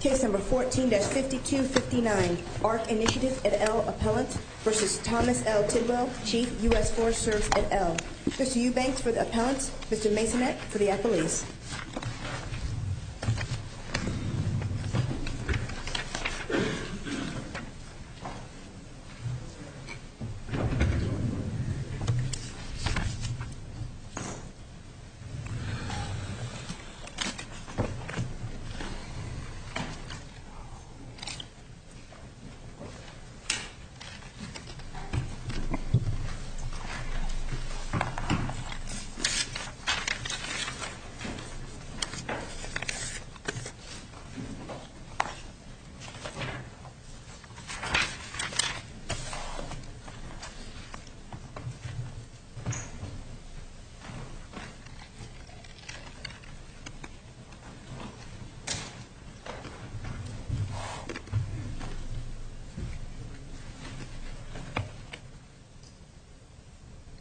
Case number 14-5259, ARC Initiative et al. Appellant v. Thomas L. Tidwell, Chief, U.S. Forest Service et al. Mr. Eubanks for the Appellant, Mr. Masonette for the Appellant. Thank you, Mr. Tidwell.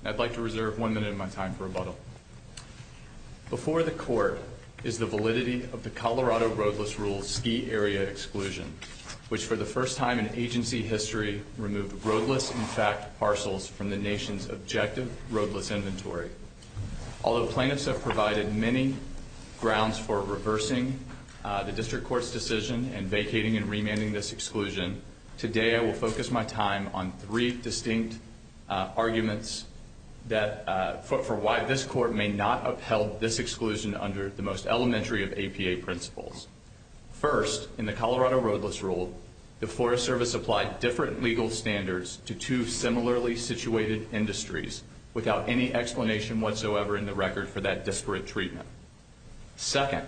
I'd like to reserve one minute of my time for rebuttal. Before the Court is the validity of the Colorado Roadless Rules Ski Area Exclusion, which for the first time in agency history removed roadless, in fact, parcels from the nation's objective roadless inventory. Although plaintiffs have provided many grounds for reversing the District Court's decision and vacating and remanding this exclusion, today I will focus my time on three distinct arguments for why this Court may not upheld this exclusion under the most elementary of APA principles. First, in the Colorado Roadless Rule, the Forest Service applied different legal standards to two similarly situated industries without any explanation whatsoever in the record for that disparate treatment. Second,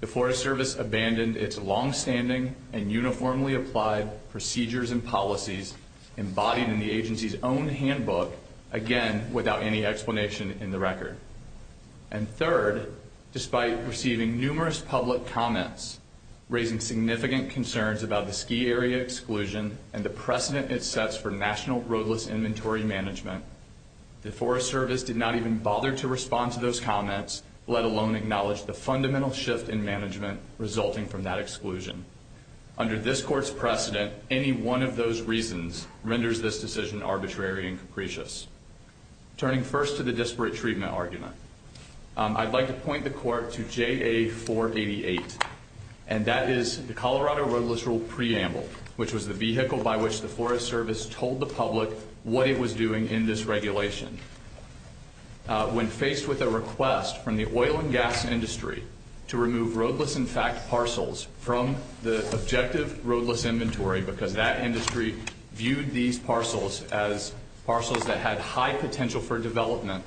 the Forest Service abandoned its longstanding and uniformly applied procedures and policies embodied in the agency's own handbook, again, without any explanation in the record. And third, despite receiving numerous public comments raising significant concerns about the ski area exclusion and the precedent it sets for national roadless inventory management, the Forest Service did not even bother to respond to those comments, let alone acknowledge the fundamental shift in management resulting from that exclusion. Under this Court's precedent, any one of those reasons renders this decision arbitrary and capricious. Turning first to the disparate treatment argument, I'd like to point the Court to JA-488, and that is the Colorado Roadless Rule preamble, which was the vehicle by which the Forest Service told the public what it was doing in this regulation. When faced with a request from the oil and gas industry to remove roadless, in fact, parcels from the objective roadless inventory because that industry viewed these parcels as parcels that had high potential for development,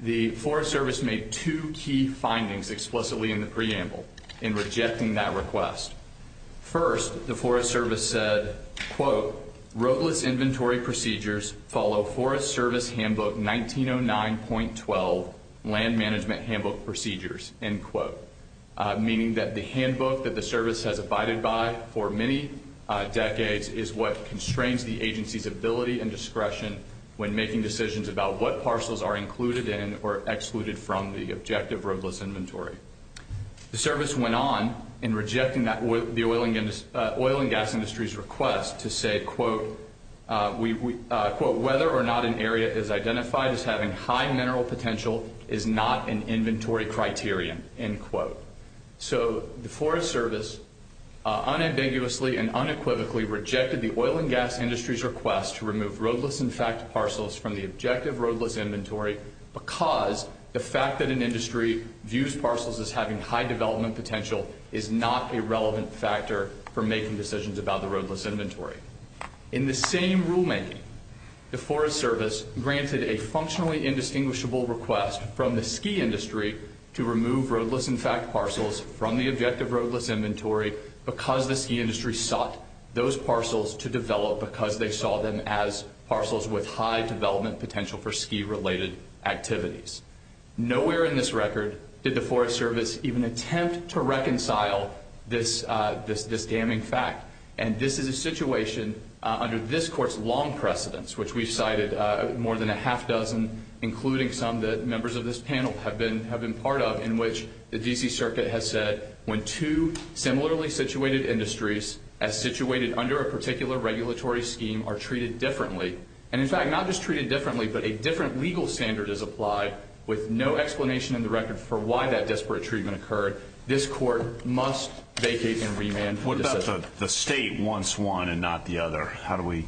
the Forest Service made two key findings explicitly in the preamble in rejecting that request. First, the Forest Service said, quote, roadless inventory procedures follow Forest Service handbook 1909.12 land management handbook procedures, end quote, meaning that the handbook that the service has abided by for many decades is what constrains the agency's ability and discretion when making decisions about what parcels are included in or excluded from the objective roadless inventory. The service went on in rejecting the oil and gas industry's request to say, quote, whether or not an area is identified as having high mineral potential is not an inventory criterion, end quote. So the Forest Service unambiguously and unequivocally rejected the oil and gas industry's request to remove roadless, in fact, parcels from the objective roadless inventory because the fact that an industry views parcels as having high development potential is not a relevant factor for making decisions about the roadless inventory. In the same rulemaking, the Forest Service granted a functionally indistinguishable request from the ski industry to remove roadless, in fact, parcels from the objective roadless inventory because the ski industry sought those parcels to develop because they saw them as parcels with high development potential for ski-related activities. Nowhere in this record did the Forest Service even attempt to reconcile this damning fact, and this is a situation under this Court's long precedence, which we've cited more than a half dozen, including some that members of this panel have been part of, in which the D.C. Circuit has said when two similarly situated industries as situated under a particular regulatory scheme are treated differently, and, in fact, not just treated differently but a different legal standard is applied, with no explanation in the record for why that desperate treatment occurred, this Court must vacate and remand the decision. What about the state wants one and not the other? How do we…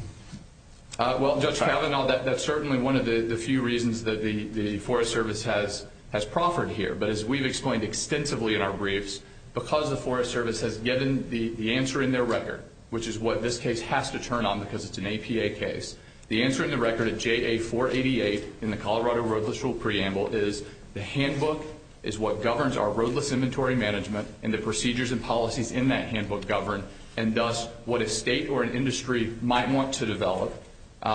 The handbook is what governs our roadless inventory management, and the procedures and policies in that handbook govern, and thus what a state or an industry might want to develop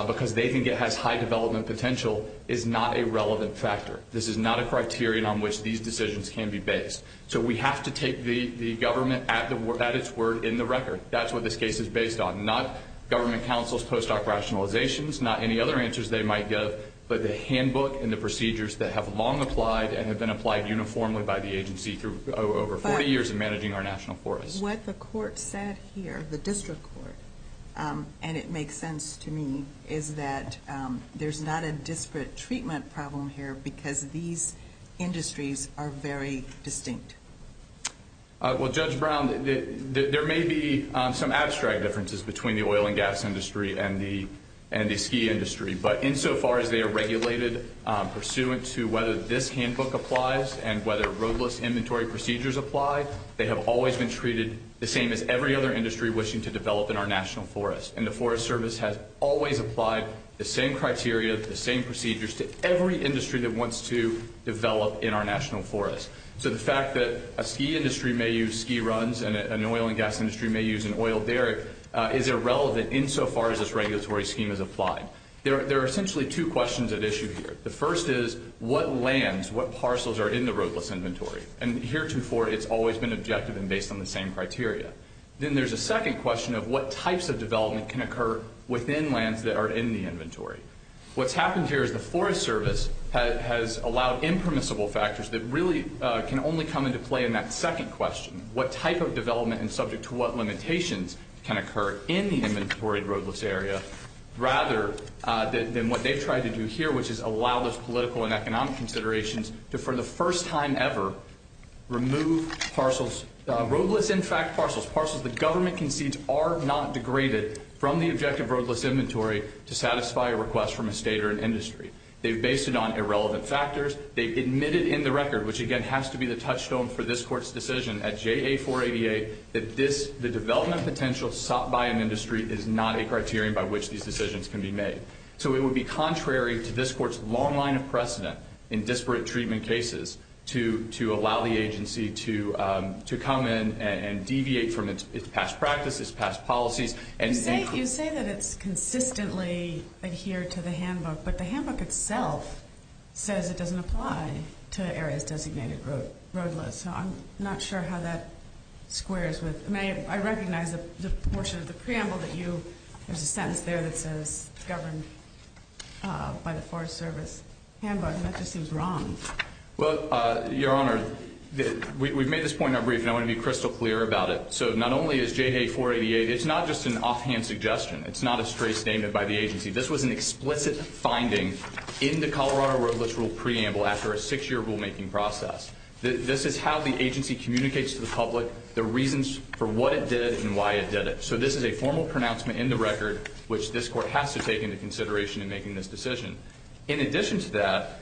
because they think it has high development potential is not a relevant factor. This is not a criterion on which these decisions can be based. So we have to take the government at its word in the record. That's what this case is based on, not government counsel's post-doc rationalizations, not any other answers they might give, but the handbook and the procedures that have long applied and have been applied uniformly by the agency through over 40 years of managing our national forests. What the court said here, the district court, and it makes sense to me, is that there's not a disparate treatment problem here because these industries are very distinct. Well, Judge Brown, there may be some abstract differences between the oil and gas industry and the ski industry. But insofar as they are regulated pursuant to whether this handbook applies and whether roadless inventory procedures apply, they have always been treated the same as every other industry wishing to develop in our national forests. And the Forest Service has always applied the same criteria, the same procedures to every industry that wants to develop in our national forests. So the fact that a ski industry may use ski runs and an oil and gas industry may use an oil derrick is irrelevant insofar as this regulatory scheme is applied. There are essentially two questions at issue here. The first is, what lands, what parcels are in the roadless inventory? And heretofore, it's always been objective and based on the same criteria. Then there's a second question of what types of development can occur within lands that are in the inventory. What's happened here is the Forest Service has allowed impermissible factors that really can only come into play in that second question, what type of development and subject to what limitations can occur in the inventory roadless area, rather than what they've tried to do here, which is allow those political and economic considerations to, for the first time ever, remove parcels, roadless, in fact, parcels. The government concedes are not degraded from the objective roadless inventory to satisfy a request from a state or an industry. They've based it on irrelevant factors. They've admitted in the record, which, again, has to be the touchstone for this Court's decision at JA-488, that the development potential sought by an industry is not a criterion by which these decisions can be made. So it would be contrary to this Court's long line of precedent in disparate treatment cases to allow the agency to come in and deviate from its past practices, past policies. You say that it's consistently adhered to the handbook, but the handbook itself says it doesn't apply to areas designated roadless. So I'm not sure how that squares with – I recognize the portion of the preamble that you – there's a sentence there that says governed by the Forest Service handbook, and that just seems wrong. Well, Your Honor, we've made this point in our brief, and I want to be crystal clear about it. So not only is JA-488 – it's not just an offhand suggestion. It's not a stray statement by the agency. This was an explicit finding in the Colorado roadless rule preamble after a six-year rulemaking process. This is how the agency communicates to the public the reasons for what it did and why it did it. So this is a formal pronouncement in the record, which this Court has to take into consideration in making this decision. In addition to that,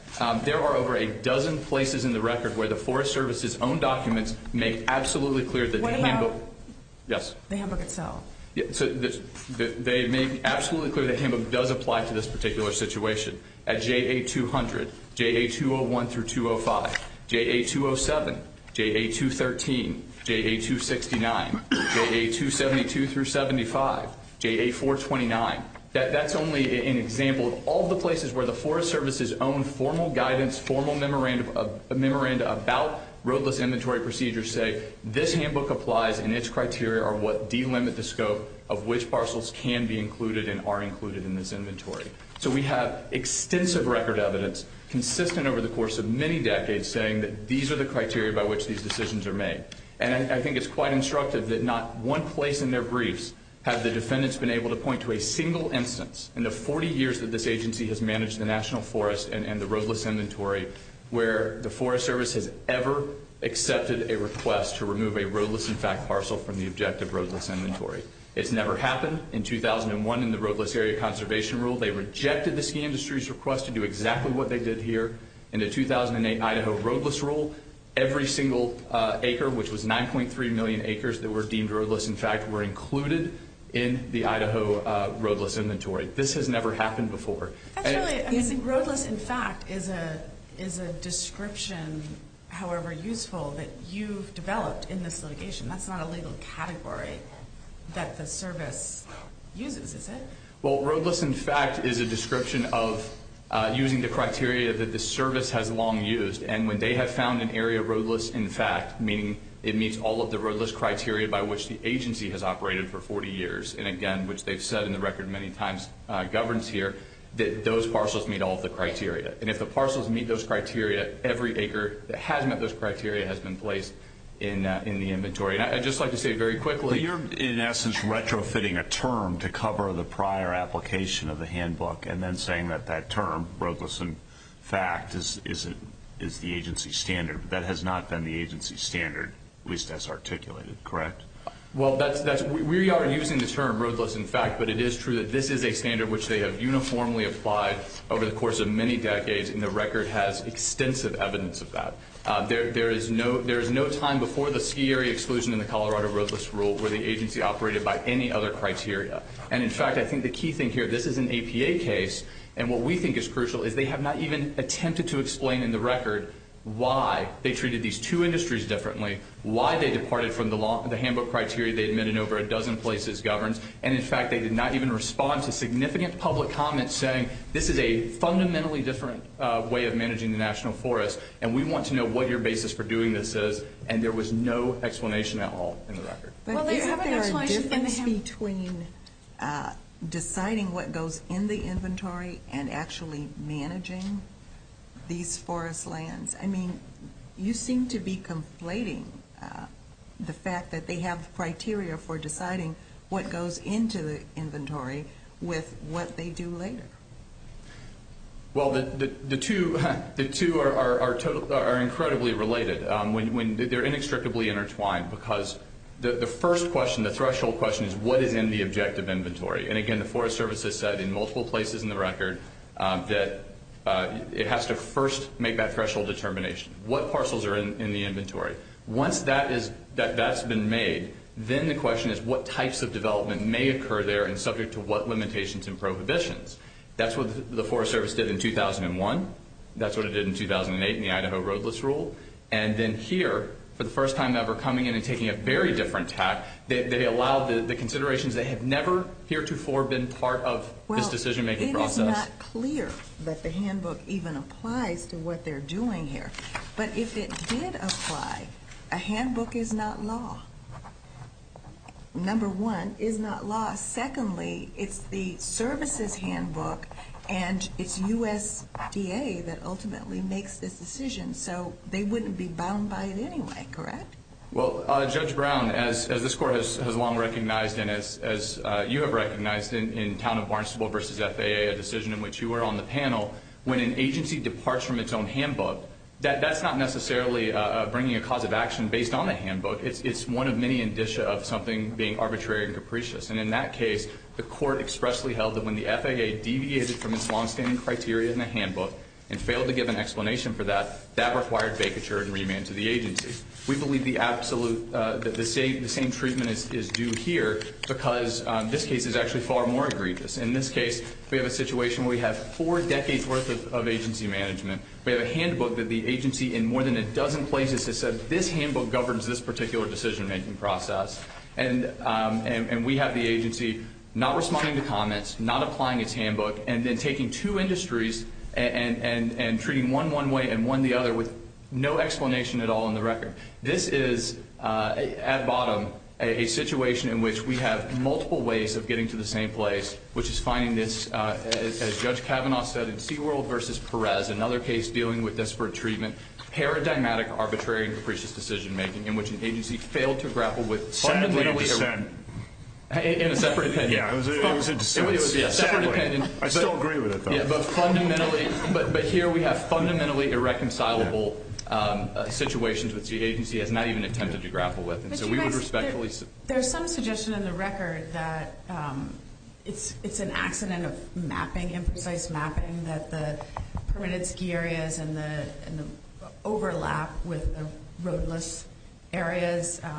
there are over a dozen places in the record where the Forest Service's own documents make absolutely clear that the handbook – What about – Yes. The handbook itself. They make absolutely clear that the handbook does apply to this particular situation. At JA-200, JA-201-205, JA-207, JA-213, JA-269, JA-272-75, JA-429. That's only an example of all the places where the Forest Service's own formal guidance, formal memoranda about roadless inventory procedures say this handbook applies and its criteria are what delimit the scope of which parcels can be included and are included in this inventory. So we have extensive record evidence, consistent over the course of many decades, saying that these are the criteria by which these decisions are made. And I think it's quite instructive that not one place in their briefs have the defendants been able to point to a single instance in the 40 years that this agency has managed the National Forest and the roadless inventory where the Forest Service has ever accepted a request to remove a roadless in fact parcel from the objective roadless inventory. It's never happened. In 2001, in the roadless area conservation rule, they rejected the ski industry's request to do exactly what they did here. In the 2008 Idaho roadless rule, every single acre, which was 9.3 million acres that were deemed roadless in fact, were included in the Idaho roadless inventory. This has never happened before. Roadless in fact is a description, however useful, that you've developed in this litigation. That's not a legal category that the service uses, is it? Well, roadless in fact is a description of using the criteria that the service has long used. And when they have found an area roadless in fact, meaning it meets all of the roadless criteria by which the agency has operated for 40 years, and again, which they've said in the record many times governs here, that those parcels meet all of the criteria. And if the parcels meet those criteria, every acre that has met those criteria has been placed in the inventory. And I'd just like to say very quickly you're in essence retrofitting a term to cover the prior application of the handbook and then saying that that term, roadless in fact, is the agency standard. That has not been the agency standard, at least as articulated, correct? Well, we are using the term roadless in fact, but it is true that this is a standard which they have uniformly applied over the course of many decades, and the record has extensive evidence of that. There is no time before the ski area exclusion in the Colorado roadless rule where the agency operated by any other criteria. And in fact, I think the key thing here, this is an APA case, and what we think is crucial is they have not even attempted to explain in the record why they treated these two industries differently, why they departed from the handbook criteria they admitted in over a dozen places governs, and in fact, they did not even respond to significant public comments saying, this is a fundamentally different way of managing the national forest, and we want to know what your basis for doing this is, and there was no explanation at all in the record. But isn't there a difference between deciding what goes in the inventory and actually managing these forest lands? I mean, you seem to be conflating the fact that they have criteria for deciding what goes into the inventory with what they do later. Well, the two are incredibly related. They are inextricably intertwined because the first question, the threshold question, is what is in the objective inventory? And again, the Forest Service has said in multiple places in the record that it has to first make that threshold determination. What parcels are in the inventory? Once that's been made, then the question is what types of development may occur there and subject to what limitations and prohibitions? That's what the Forest Service did in 2001. That's what it did in 2008 in the Idaho roadless rule. And then here, for the first time ever, coming in and taking a very different tact, they allowed the considerations that have never heretofore been part of this decision-making process. Well, it is not clear that the handbook even applies to what they're doing here. But if it did apply, a handbook is not law, number one, is not law. Secondly, it's the services handbook, and it's USDA that ultimately makes this decision. So they wouldn't be bound by it anyway, correct? Well, Judge Brown, as this Court has long recognized and as you have recognized in Town of Barnstable v. FAA, a decision in which you were on the panel, when an agency departs from its own handbook, that's not necessarily bringing a cause of action based on a handbook. It's one of many indicia of something being arbitrary and capricious. And in that case, the Court expressly held that when the FAA deviated from its longstanding criteria in the handbook and failed to give an explanation for that, that required vacature and remand to the agency. We believe the same treatment is due here because this case is actually far more egregious. In this case, we have a situation where we have four decades' worth of agency management. We have a handbook that the agency in more than a dozen places has said, this handbook governs this particular decision-making process. And we have the agency not responding to comments, not applying its handbook, and then taking two industries and treating one one way and one the other with no explanation at all in the record. This is, at bottom, a situation in which we have multiple ways of getting to the same place, which is finding this, as Judge Kavanaugh said in Seaworld v. Perez, another case dealing with desperate treatment, paradigmatic arbitrary and capricious decision-making in which an agency failed to grapple with fundamentally a- Sadly a dissent. In a separate opinion. Yeah, it was a dissent. It was a separate opinion. I still agree with it, though. But here we have fundamentally irreconcilable situations which the agency has not even attempted to grapple with. But you guys, there's some suggestion in the record that it's an accident of mapping, imprecise mapping, that the permitted ski areas and the overlap with roadless areas, and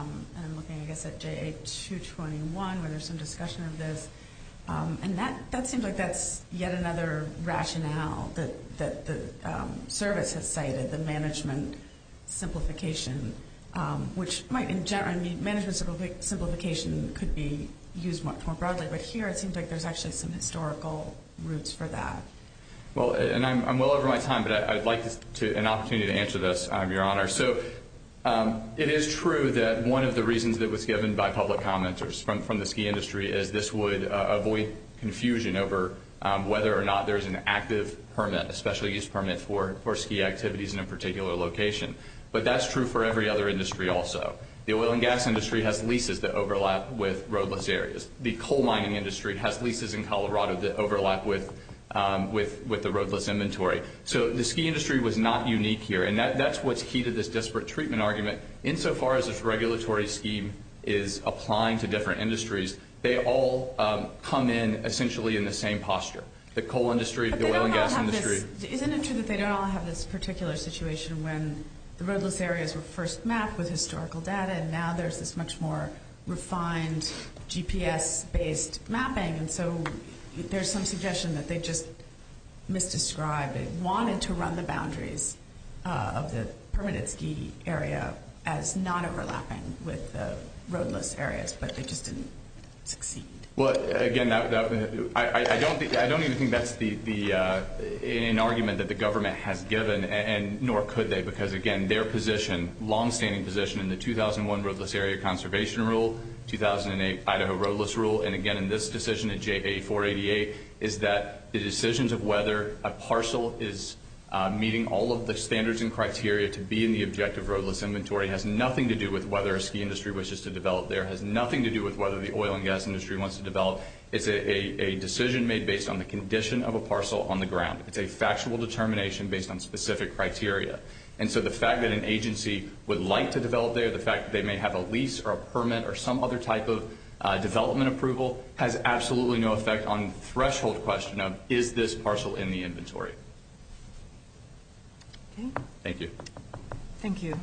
I'm looking, I guess, at JA-221 where there's some discussion of this, and that seems like that's yet another rationale that the service has cited, the management simplification, which might in general, I mean, management simplification could be used much more broadly, but here it seems like there's actually some historical roots for that. Well, and I'm well over my time, but I'd like an opportunity to answer this, Your Honor. So it is true that one of the reasons that was given by public commenters from the ski industry is this would avoid confusion over whether or not there's an active permit, a special use permit for ski activities in a particular location. But that's true for every other industry also. The oil and gas industry has leases that overlap with roadless areas. The coal mining industry has leases in Colorado that overlap with the roadless inventory. So the ski industry was not unique here, and that's what's key to this disparate treatment argument. Insofar as this regulatory scheme is applying to different industries, they all come in essentially in the same posture, the coal industry, the oil and gas industry. But they don't all have this. Isn't it true that they don't all have this particular situation when the roadless areas were first mapped with historical data, and now there's this much more refined GPS-based mapping, and so there's some suggestion that they just misdescribed and wanted to run the boundaries of the permanent ski area as not overlapping with the roadless areas, but they just didn't succeed? Well, again, I don't even think that's an argument that the government has given, nor could they because, again, their position, longstanding position, in the 2001 roadless area conservation rule, 2008 Idaho roadless rule, and again in this decision at JA-488, is that the decisions of whether a parcel is meeting all of the standards and criteria to be in the objective roadless inventory has nothing to do with whether a ski industry wishes to develop there, has nothing to do with whether the oil and gas industry wants to develop. It's a decision made based on the condition of a parcel on the ground. It's a factual determination based on specific criteria. And so the fact that an agency would like to develop there, the fact that they may have a lease or a permit or some other type of development approval, has absolutely no effect on the threshold question of is this parcel in the inventory. Okay. Thank you. Thank you.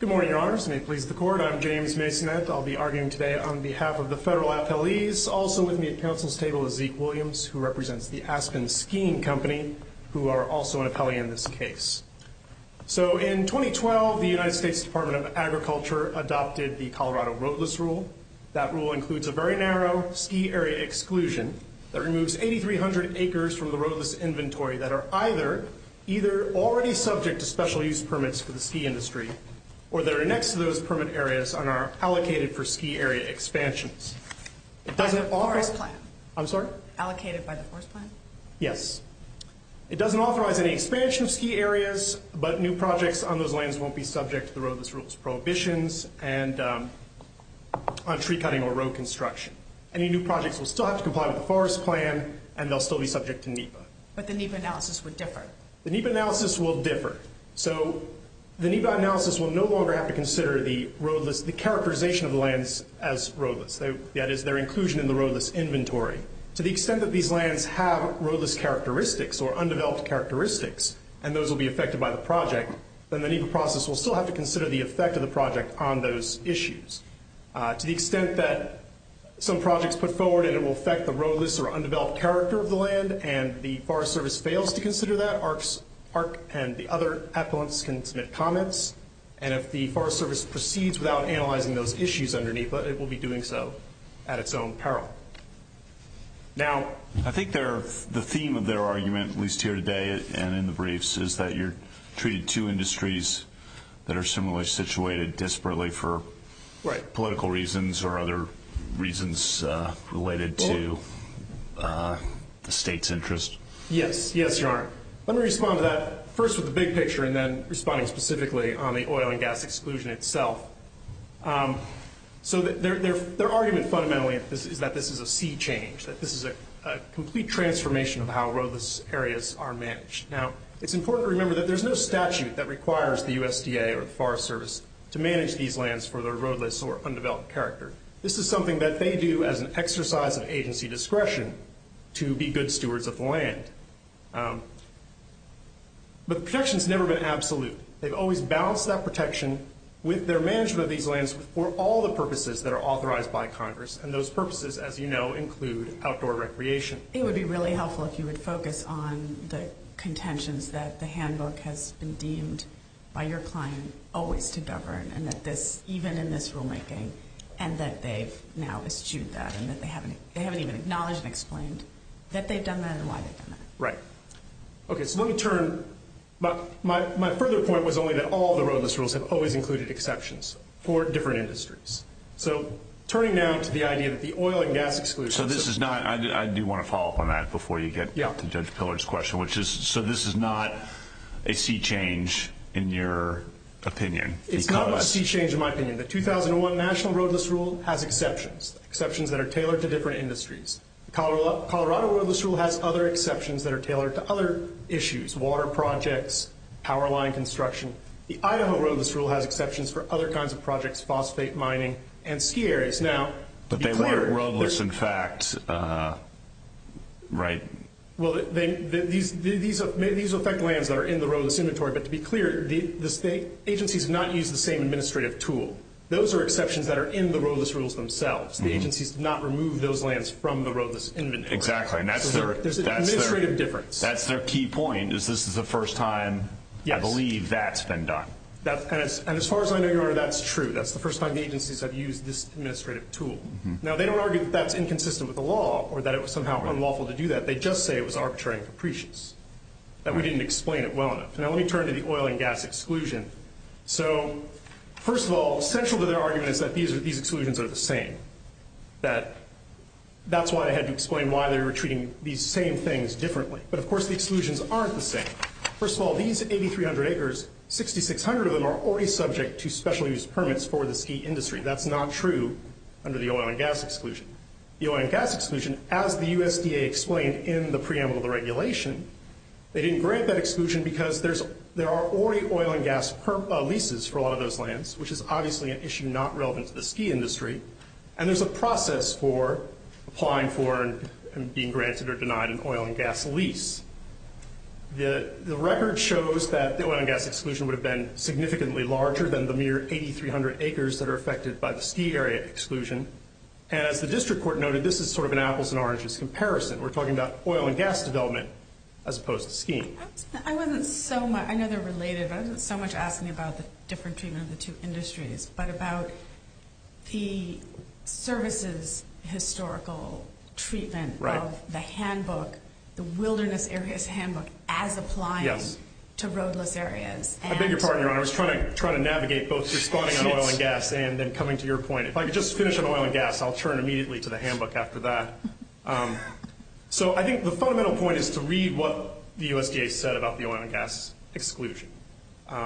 Good morning, Your Honors. May it please the Court. I'm James Masoneth. I'll be arguing today on behalf of the federal appellees. Also with me at counsel's table is Zeke Williams, who represents the Aspen Skiing Company, who are also an appellee in this case. So in 2012, the United States Department of Agriculture adopted the Colorado Roadless Rule. That rule includes a very narrow ski area exclusion that removes 8,300 acres from the roadless inventory that are either already subject to special use permits for the ski industry or that are next to those permit areas and are allocated for ski area expansions. Forest plan. I'm sorry? Allocated by the forest plan? Yes. It doesn't authorize any expansion of ski areas, but new projects on those lands won't be subject to the roadless rules prohibitions and on tree cutting or road construction. Any new projects will still have to comply with the forest plan, and they'll still be subject to NEPA. But the NEPA analysis would differ. The NEPA analysis will differ. So the NEPA analysis will no longer have to consider the roadless, the characterization of the lands as roadless, that is, their inclusion in the roadless inventory. To the extent that these lands have roadless characteristics or undeveloped characteristics and those will be affected by the project, then the NEPA process will still have to consider the effect of the project on those issues. To the extent that some projects put forward and it will affect the roadless or undeveloped character of the land and the Forest Service fails to consider that, the parks and the other appellants can submit comments, and if the Forest Service proceeds without analyzing those issues under NEPA, it will be doing so at its own peril. Now, I think the theme of their argument, at least here today and in the briefs, is that you're treating two industries that are similarly situated desperately for political reasons or other reasons related to the state's interest. Yes. Yes, Your Honor. Let me respond to that first with the big picture and then responding specifically on the oil and gas exclusion itself. So their argument fundamentally is that this is a sea change, that this is a complete transformation of how roadless areas are managed. Now, it's important to remember that there's no statute that requires the USDA or the Forest Service to manage these lands for their roadless or undeveloped character. This is something that they do as an exercise of agency discretion to be good stewards of the land. But protection's never been absolute. They've always balanced that protection with their management of these lands for all the purposes that are authorized by Congress, and those purposes, as you know, include outdoor recreation. It would be really helpful if you would focus on the contentions that the handbook has been deemed by your client always to govern and that this, even in this rulemaking, and that they've now eschewed that and that they haven't even acknowledged and explained that they've done that and why they've done that. Right. Okay, so let me turn. My further point was only that all the roadless rules have always included exceptions for different industries. So turning now to the idea that the oil and gas exclusion— So this is not—I do want to follow up on that before you get to Judge Pillard's question, which is, so this is not a sea change in your opinion because— The National Roadless Rule has exceptions, exceptions that are tailored to different industries. The Colorado Roadless Rule has other exceptions that are tailored to other issues, water projects, power line construction. The Idaho Roadless Rule has exceptions for other kinds of projects, phosphate mining and ski areas. Now, to be clear— But they weren't roadless, in fact, right? Well, these affect lands that are in the roadless inventory. But to be clear, the state agencies have not used the same administrative tool. Those are exceptions that are in the roadless rules themselves. The agencies did not remove those lands from the roadless inventory. Exactly, and that's their— So there's an administrative difference. That's their key point, is this is the first time I believe that's been done. And as far as I know, Your Honor, that's true. That's the first time the agencies have used this administrative tool. Now, they don't argue that that's inconsistent with the law or that it was somehow unlawful to do that. They just say it was arbitrary and capricious, that we didn't explain it well enough. Now, let me turn to the oil and gas exclusion. So, first of all, central to their argument is that these exclusions are the same. That's why I had to explain why they were treating these same things differently. But, of course, the exclusions aren't the same. First of all, these 8,300 acres, 6,600 of them are already subject to special use permits for the ski industry. That's not true under the oil and gas exclusion. The oil and gas exclusion, as the USDA explained in the preamble to the regulation, they didn't grant that exclusion because there are already oil and gas leases for a lot of those lands, which is obviously an issue not relevant to the ski industry. And there's a process for applying for and being granted or denied an oil and gas lease. The record shows that the oil and gas exclusion would have been significantly larger than the mere 8,300 acres that are affected by the ski area exclusion. And as the district court noted, this is sort of an apples and oranges comparison. We're talking about oil and gas development as opposed to skiing. I know they're related, but I wasn't so much asking about the different treatment of the two industries, but about the services historical treatment of the handbook, the Wilderness Areas Handbook, as applying to roadless areas. I beg your pardon, Your Honor. I was trying to navigate both responding on oil and gas and then coming to your point. If I could just finish on oil and gas, I'll turn immediately to the handbook after that. So I think the fundamental point is to read what the USDA said about the oil and gas exclusion. What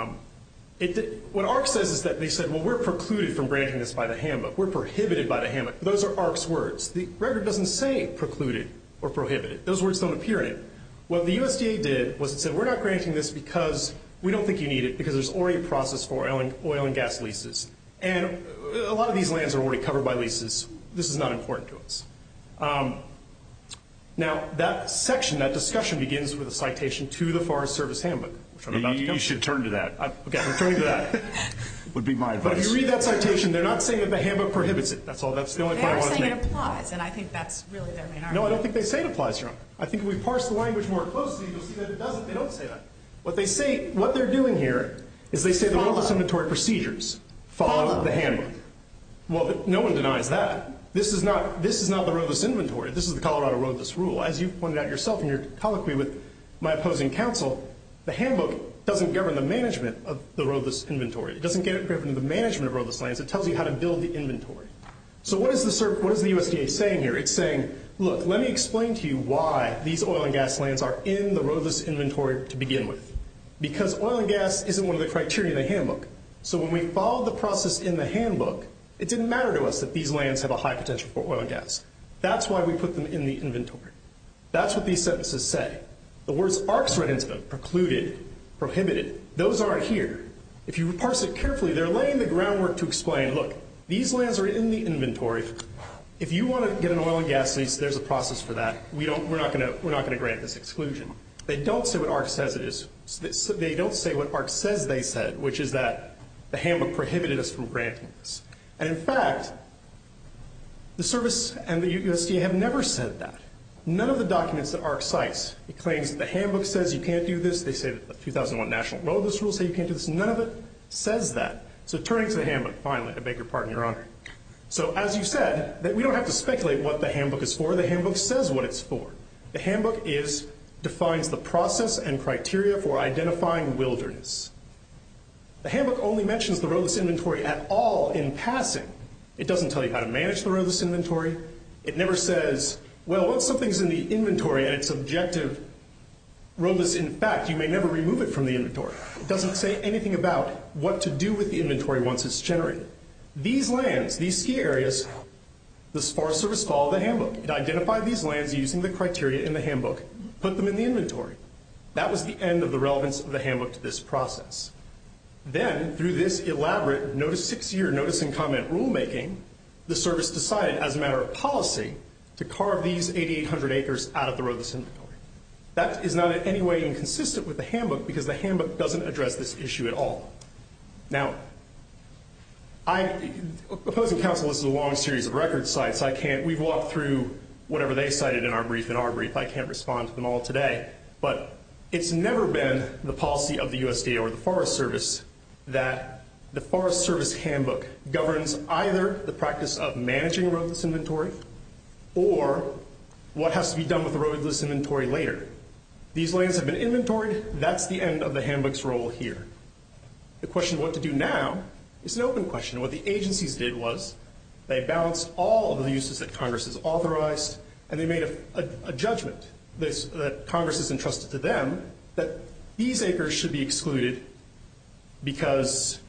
AHRQ says is that they said, well, we're precluded from granting this by the handbook. We're prohibited by the handbook. Those are AHRQ's words. The record doesn't say precluded or prohibited. Those words don't appear in it. What the USDA did was it said, we're not granting this because we don't think you need it because there's already a process for oil and gas leases. And a lot of these lands are already covered by leases. This is not important to us. Now, that section, that discussion begins with a citation to the Forest Service Handbook, which I'm about to come to. You should turn to that. Okay, I'm turning to that. Would be my advice. But if you read that citation, they're not saying that the handbook prohibits it. That's the only part I want to make. They are saying it applies, and I think that's really their main argument. No, I don't think they say it applies, Your Honor. I think if we parse the language more closely, you'll see that it doesn't. They don't say that. What they're doing here is they say the roadless inventory procedures follow the handbook. Well, no one denies that. This is not the roadless inventory. This is the Colorado roadless rule. As you pointed out yourself in your colloquy with my opposing counsel, the handbook doesn't govern the management of the roadless inventory. It doesn't get it driven to the management of roadless lands. It tells you how to build the inventory. So what is the USDA saying here? It's saying, look, let me explain to you why these oil and gas lands are in the roadless inventory to begin with. Because oil and gas isn't one of the criteria in the handbook. So when we follow the process in the handbook, it didn't matter to us that these lands have a high potential for oil and gas. That's why we put them in the inventory. That's what these sentences say. The words arcs run into them, precluded, prohibited. Those aren't here. If you parse it carefully, they're laying the groundwork to explain, look, these lands are in the inventory. If you want to get an oil and gas lease, there's a process for that. We're not going to grant this exclusion. They don't say what arcs says it is. They don't say what arcs says they said, which is that the handbook prohibited us from granting this. And, in fact, the service and the USDA have never said that. None of the documents that arcs cites, it claims that the handbook says you can't do this. They say that the 2001 National Roadless Rule says you can't do this. None of it says that. So turning to the handbook, finally, I beg your pardon, Your Honor. So, as you said, we don't have to speculate what the handbook is for. The handbook says what it's for. The handbook defines the process and criteria for identifying wilderness. The handbook only mentions the roadless inventory at all in passing. It doesn't tell you how to manage the roadless inventory. It never says, well, once something's in the inventory and it's objective roadless, in fact, you may never remove it from the inventory. It doesn't say anything about what to do with the inventory once it's generated. These lands, these ski areas, the Forest Service called the handbook. It identified these lands using the criteria in the handbook, put them in the inventory. That was the end of the relevance of the handbook to this process. Then, through this elaborate six-year notice and comment rulemaking, the service decided, as a matter of policy, to carve these 8,800 acres out of the roadless inventory. That is not in any way inconsistent with the handbook because the handbook doesn't address this issue at all. Now, opposing counsel, this is a long series of record sites. We've walked through whatever they cited in our brief. In our brief, I can't respond to them all today, but it's never been the policy of the USDA or the Forest Service that the Forest Service handbook governs either the practice of managing roadless inventory or what has to be done with the roadless inventory later. These lands have been inventoried. That's the end of the handbook's role here. The question of what to do now is an open question. What the agencies did was they balanced all of the uses that Congress has authorized, and they made a judgment that Congress has entrusted to them that these acres should be excluded because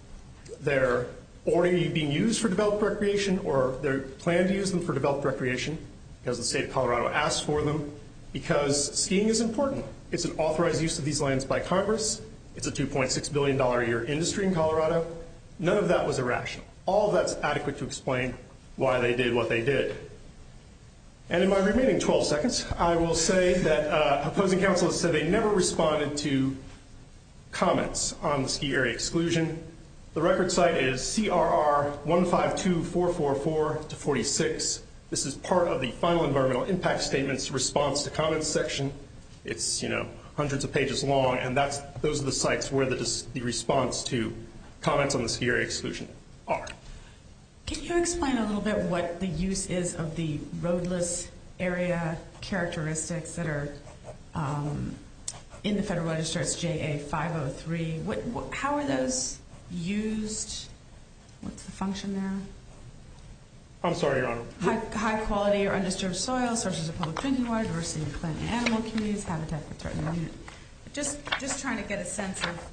they're already being used for developed recreation or they're planned to use them for developed recreation because the state of Colorado asked for them, because skiing is important. It's an authorized use of these lands by Congress. It's a $2.6 billion a year industry in Colorado. None of that was irrational. All of that's adequate to explain why they did what they did. And in my remaining 12 seconds, I will say that opposing counsel has said they never responded to comments on the ski area exclusion. The record site is CRR 152444-46. This is part of the final environmental impact statement's response to comments section. It's hundreds of pages long, and those are the sites where the response to comments on the ski area exclusion are. Can you explain a little bit what the use is of the roadless area characteristics that are in the Federal Register? It's JA 503. How are those used? What's the function there? I'm sorry, Your Honor. High quality or undisturbed soil, sources of public drinking water, diversity of plant and animal communities, habitat for threatened animals. Just trying to get a sense of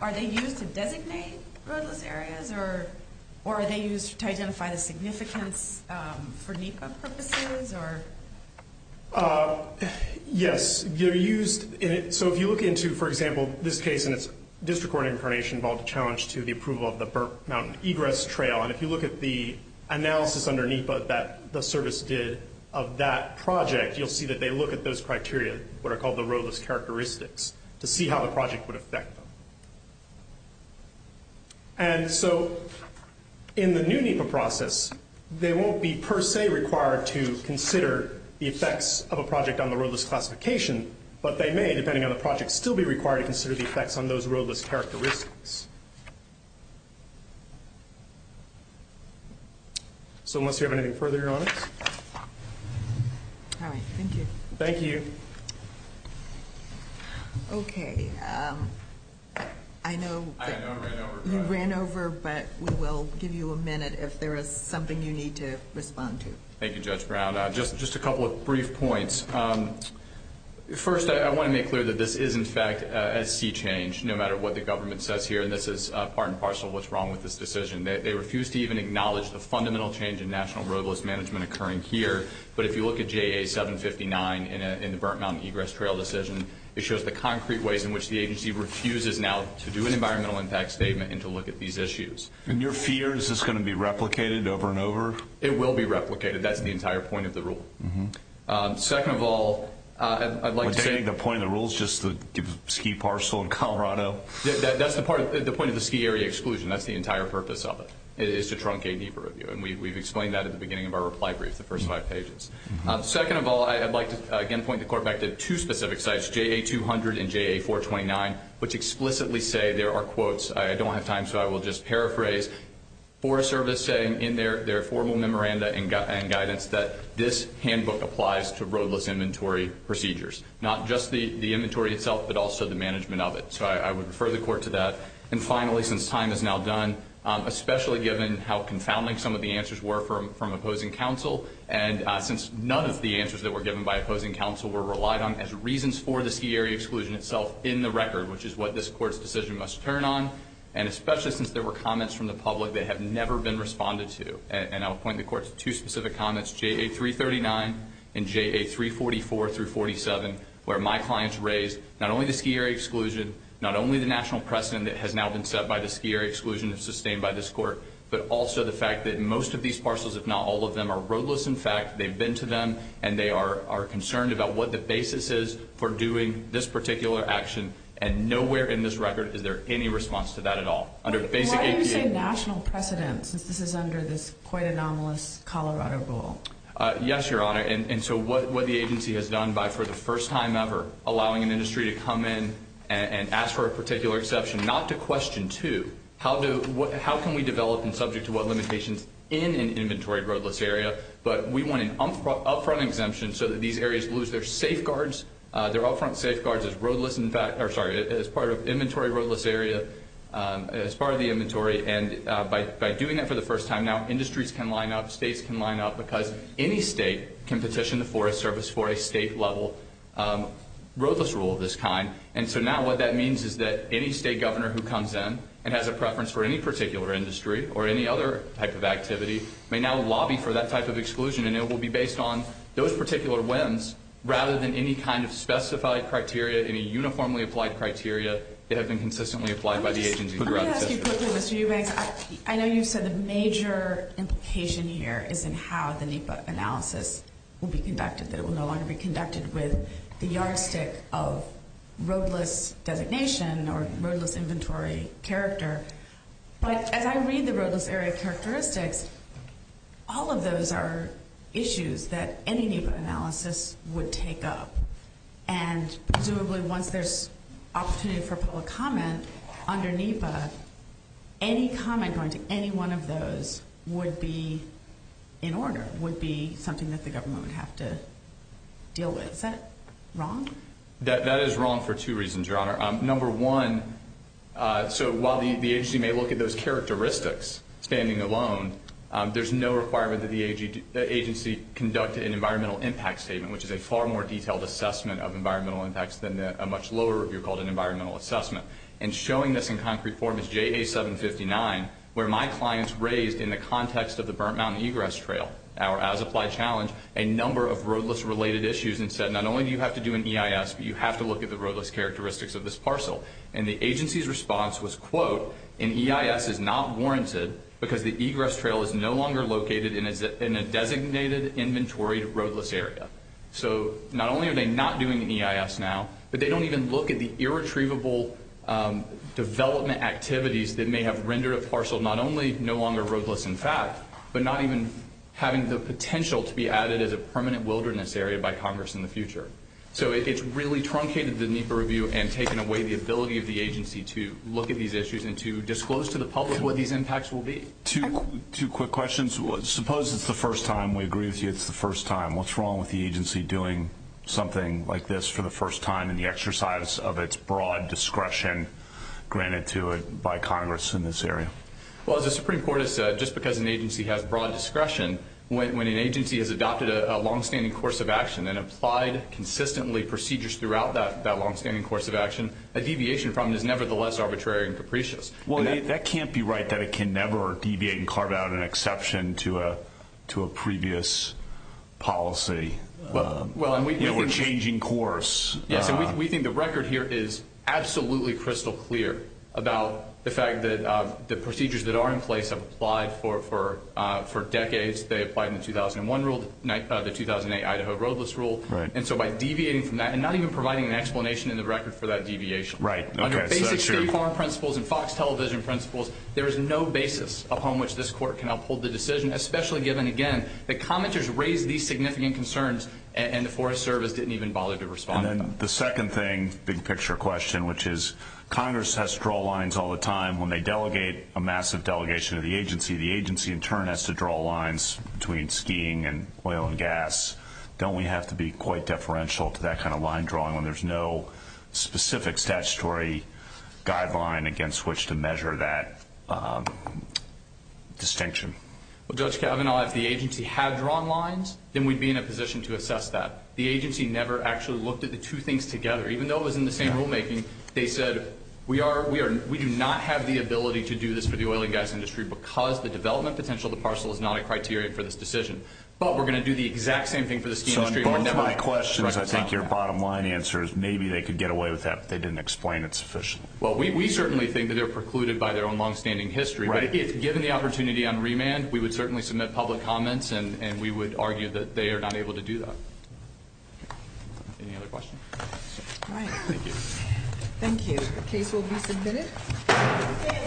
are they used to designate roadless areas, or are they used to identify the significance for NEPA purposes? Yes, they're used. So if you look into, for example, this case and its district court incarnation involved a challenge to the approval of the Burt Mountain Egress Trail. And if you look at the analysis under NEPA that the service did of that project, you'll see that they look at those criteria, what are called the roadless characteristics, to see how the project would affect them. And so in the new NEPA process, they won't be per se required to consider the effects of a project on the roadless classification, but they may, depending on the project, still be required to consider the effects on those roadless characteristics. So unless you have anything further, Your Honor. All right. Thank you. Thank you. Okay. I know you ran over, but we will give you a minute if there is something you need to respond to. Thank you, Judge Brown. Just a couple of brief points. First, I want to make clear that this is, in fact, a sea change, no matter what the government says here, and this is part and parcel of what's wrong with this decision. They refuse to even acknowledge the fundamental change in national roadless management occurring here. But if you look at JA759 in the Burt Mountain Egress Trail decision, it shows the concrete ways in which the agency refuses now to do an environmental impact statement and to look at these issues. And your fear, is this going to be replicated over and over? It will be replicated. That's the entire point of the rule. Second of all, I'd like to say the point of the rule is just to give a ski parcel in Colorado. That's the point of the ski area exclusion. That's the entire purpose of it, is to truncate deeper review. And we've explained that at the beginning of our reply brief, the first five pages. Second of all, I'd like to, again, point the Court back to two specific sites, JA200 and JA429, which explicitly say there are quotes. I don't have time, so I will just paraphrase. For a service saying in their formal memoranda and guidance that this handbook applies to roadless inventory procedures, not just the inventory itself, but also the management of it. So I would refer the Court to that. And finally, since time is now done, especially given how confounding some of the answers were from opposing counsel, and since none of the answers that were given by opposing counsel were relied on as reasons for the ski area exclusion itself in the record, which is what this Court's decision must turn on, and especially since there were comments from the public that have never been responded to. And I will point the Court to two specific comments, JA339 and JA344-47, where my clients raised not only the ski area exclusion, not only the national precedent that has now been set by the ski area exclusion sustained by this Court, but also the fact that most of these parcels, if not all of them, are roadless. In fact, they've been to them, and they are concerned about what the basis is for doing this particular action. And nowhere in this record is there any response to that at all. Why do you say national precedent, since this is under this quite anomalous Colorado rule? Yes, Your Honor. And so what the agency has done by, for the first time ever, allowing an industry to come in and ask for a particular exception not to question, too, how can we develop and subject to what limitations in an inventory roadless area, but we want an upfront exemption so that these areas lose their safeguards, their upfront safeguards as roadless, sorry, as part of inventory roadless area, as part of the inventory. And by doing that for the first time, now industries can line up, states can line up, because any state can petition the Forest Service for a state-level roadless rule of this kind. And so now what that means is that any state governor who comes in and has a preference for any particular industry or any other type of activity may now lobby for that type of exclusion, and it will be based on those particular whims rather than any kind of specified criteria, any uniformly applied criteria that have been consistently applied by the agency. Let me ask you quickly, Mr. Eubanks. I know you've said the major implication here is in how the NEPA analysis will be conducted, that it will no longer be conducted with the yardstick of roadless designation or roadless inventory character. But as I read the roadless area characteristics, all of those are issues that any NEPA analysis would take up. And presumably once there's opportunity for public comment under NEPA, any comment going to any one of those would be in order, would be something that the government would have to deal with. Is that wrong? That is wrong for two reasons, Your Honor. Number one, so while the agency may look at those characteristics standing alone, there's no requirement that the agency conduct an environmental impact statement, which is a far more detailed assessment of environmental impacts than a much lower review called an environmental assessment. And showing this in concrete form is JA759, where my clients raised in the context of the Burnt Mountain Egress Trail, our as-applied challenge, a number of roadless-related issues and said not only do you have to do an EIS, but you have to look at the roadless characteristics of this parcel. And the agency's response was, quote, an EIS is not warranted because the egress trail is no longer located in a designated inventory roadless area. So not only are they not doing an EIS now, but they don't even look at the irretrievable development activities that may have rendered a parcel not only no longer roadless in fact, but not even having the potential to be added as a permanent wilderness area by Congress in the future. So it's really truncated the NEPA review and taken away the ability of the agency to look at these issues and to disclose to the public what these impacts will be. Two quick questions. Suppose it's the first time. We agree with you it's the first time. What's wrong with the agency doing something like this for the first time in the exercise of its broad discretion granted to it by Congress in this area? Well, as the Supreme Court has said, just because an agency has broad discretion, when an agency has adopted a longstanding course of action and applied consistently procedures throughout that longstanding course of action, a deviation from it is nevertheless arbitrary and capricious. Well, that can't be right that it can never deviate and carve out an exception to a previous policy. We're changing course. Yes, and we think the record here is absolutely crystal clear about the fact that the procedures that are in place have applied for decades. They applied in the 2001 rule, the 2008 Idaho roadless rule. And so by deviating from that and not even providing an explanation in the record for that deviation, under basic state farm principles and Fox television principles, there is no basis upon which this Court can uphold the decision, especially given, again, that commenters raised these significant concerns and the Forest Service didn't even bother to respond to them. And then the second thing, big picture question, which is Congress has to draw lines all the time when they delegate a massive delegation to the agency. The agency in turn has to draw lines between skiing and oil and gas. Don't we have to be quite deferential to that kind of line drawing when there's no specific statutory guideline against which to measure that distinction? Well, Judge Kavanaugh, if the agency had drawn lines, then we'd be in a position to assess that. The agency never actually looked at the two things together. Even though it was in the same rulemaking, they said, we do not have the ability to do this for the oil and gas industry because the development potential of the parcel is not a criteria for this decision. But we're going to do the exact same thing for the ski industry. So on both my questions, I think your bottom line answer is maybe they could get away with that if they didn't explain it sufficiently. Well, we certainly think that they're precluded by their own longstanding history. But given the opportunity on remand, we would certainly submit public comments and we would argue that they are not able to do that. Any other questions? All right. Thank you. The case will be submitted.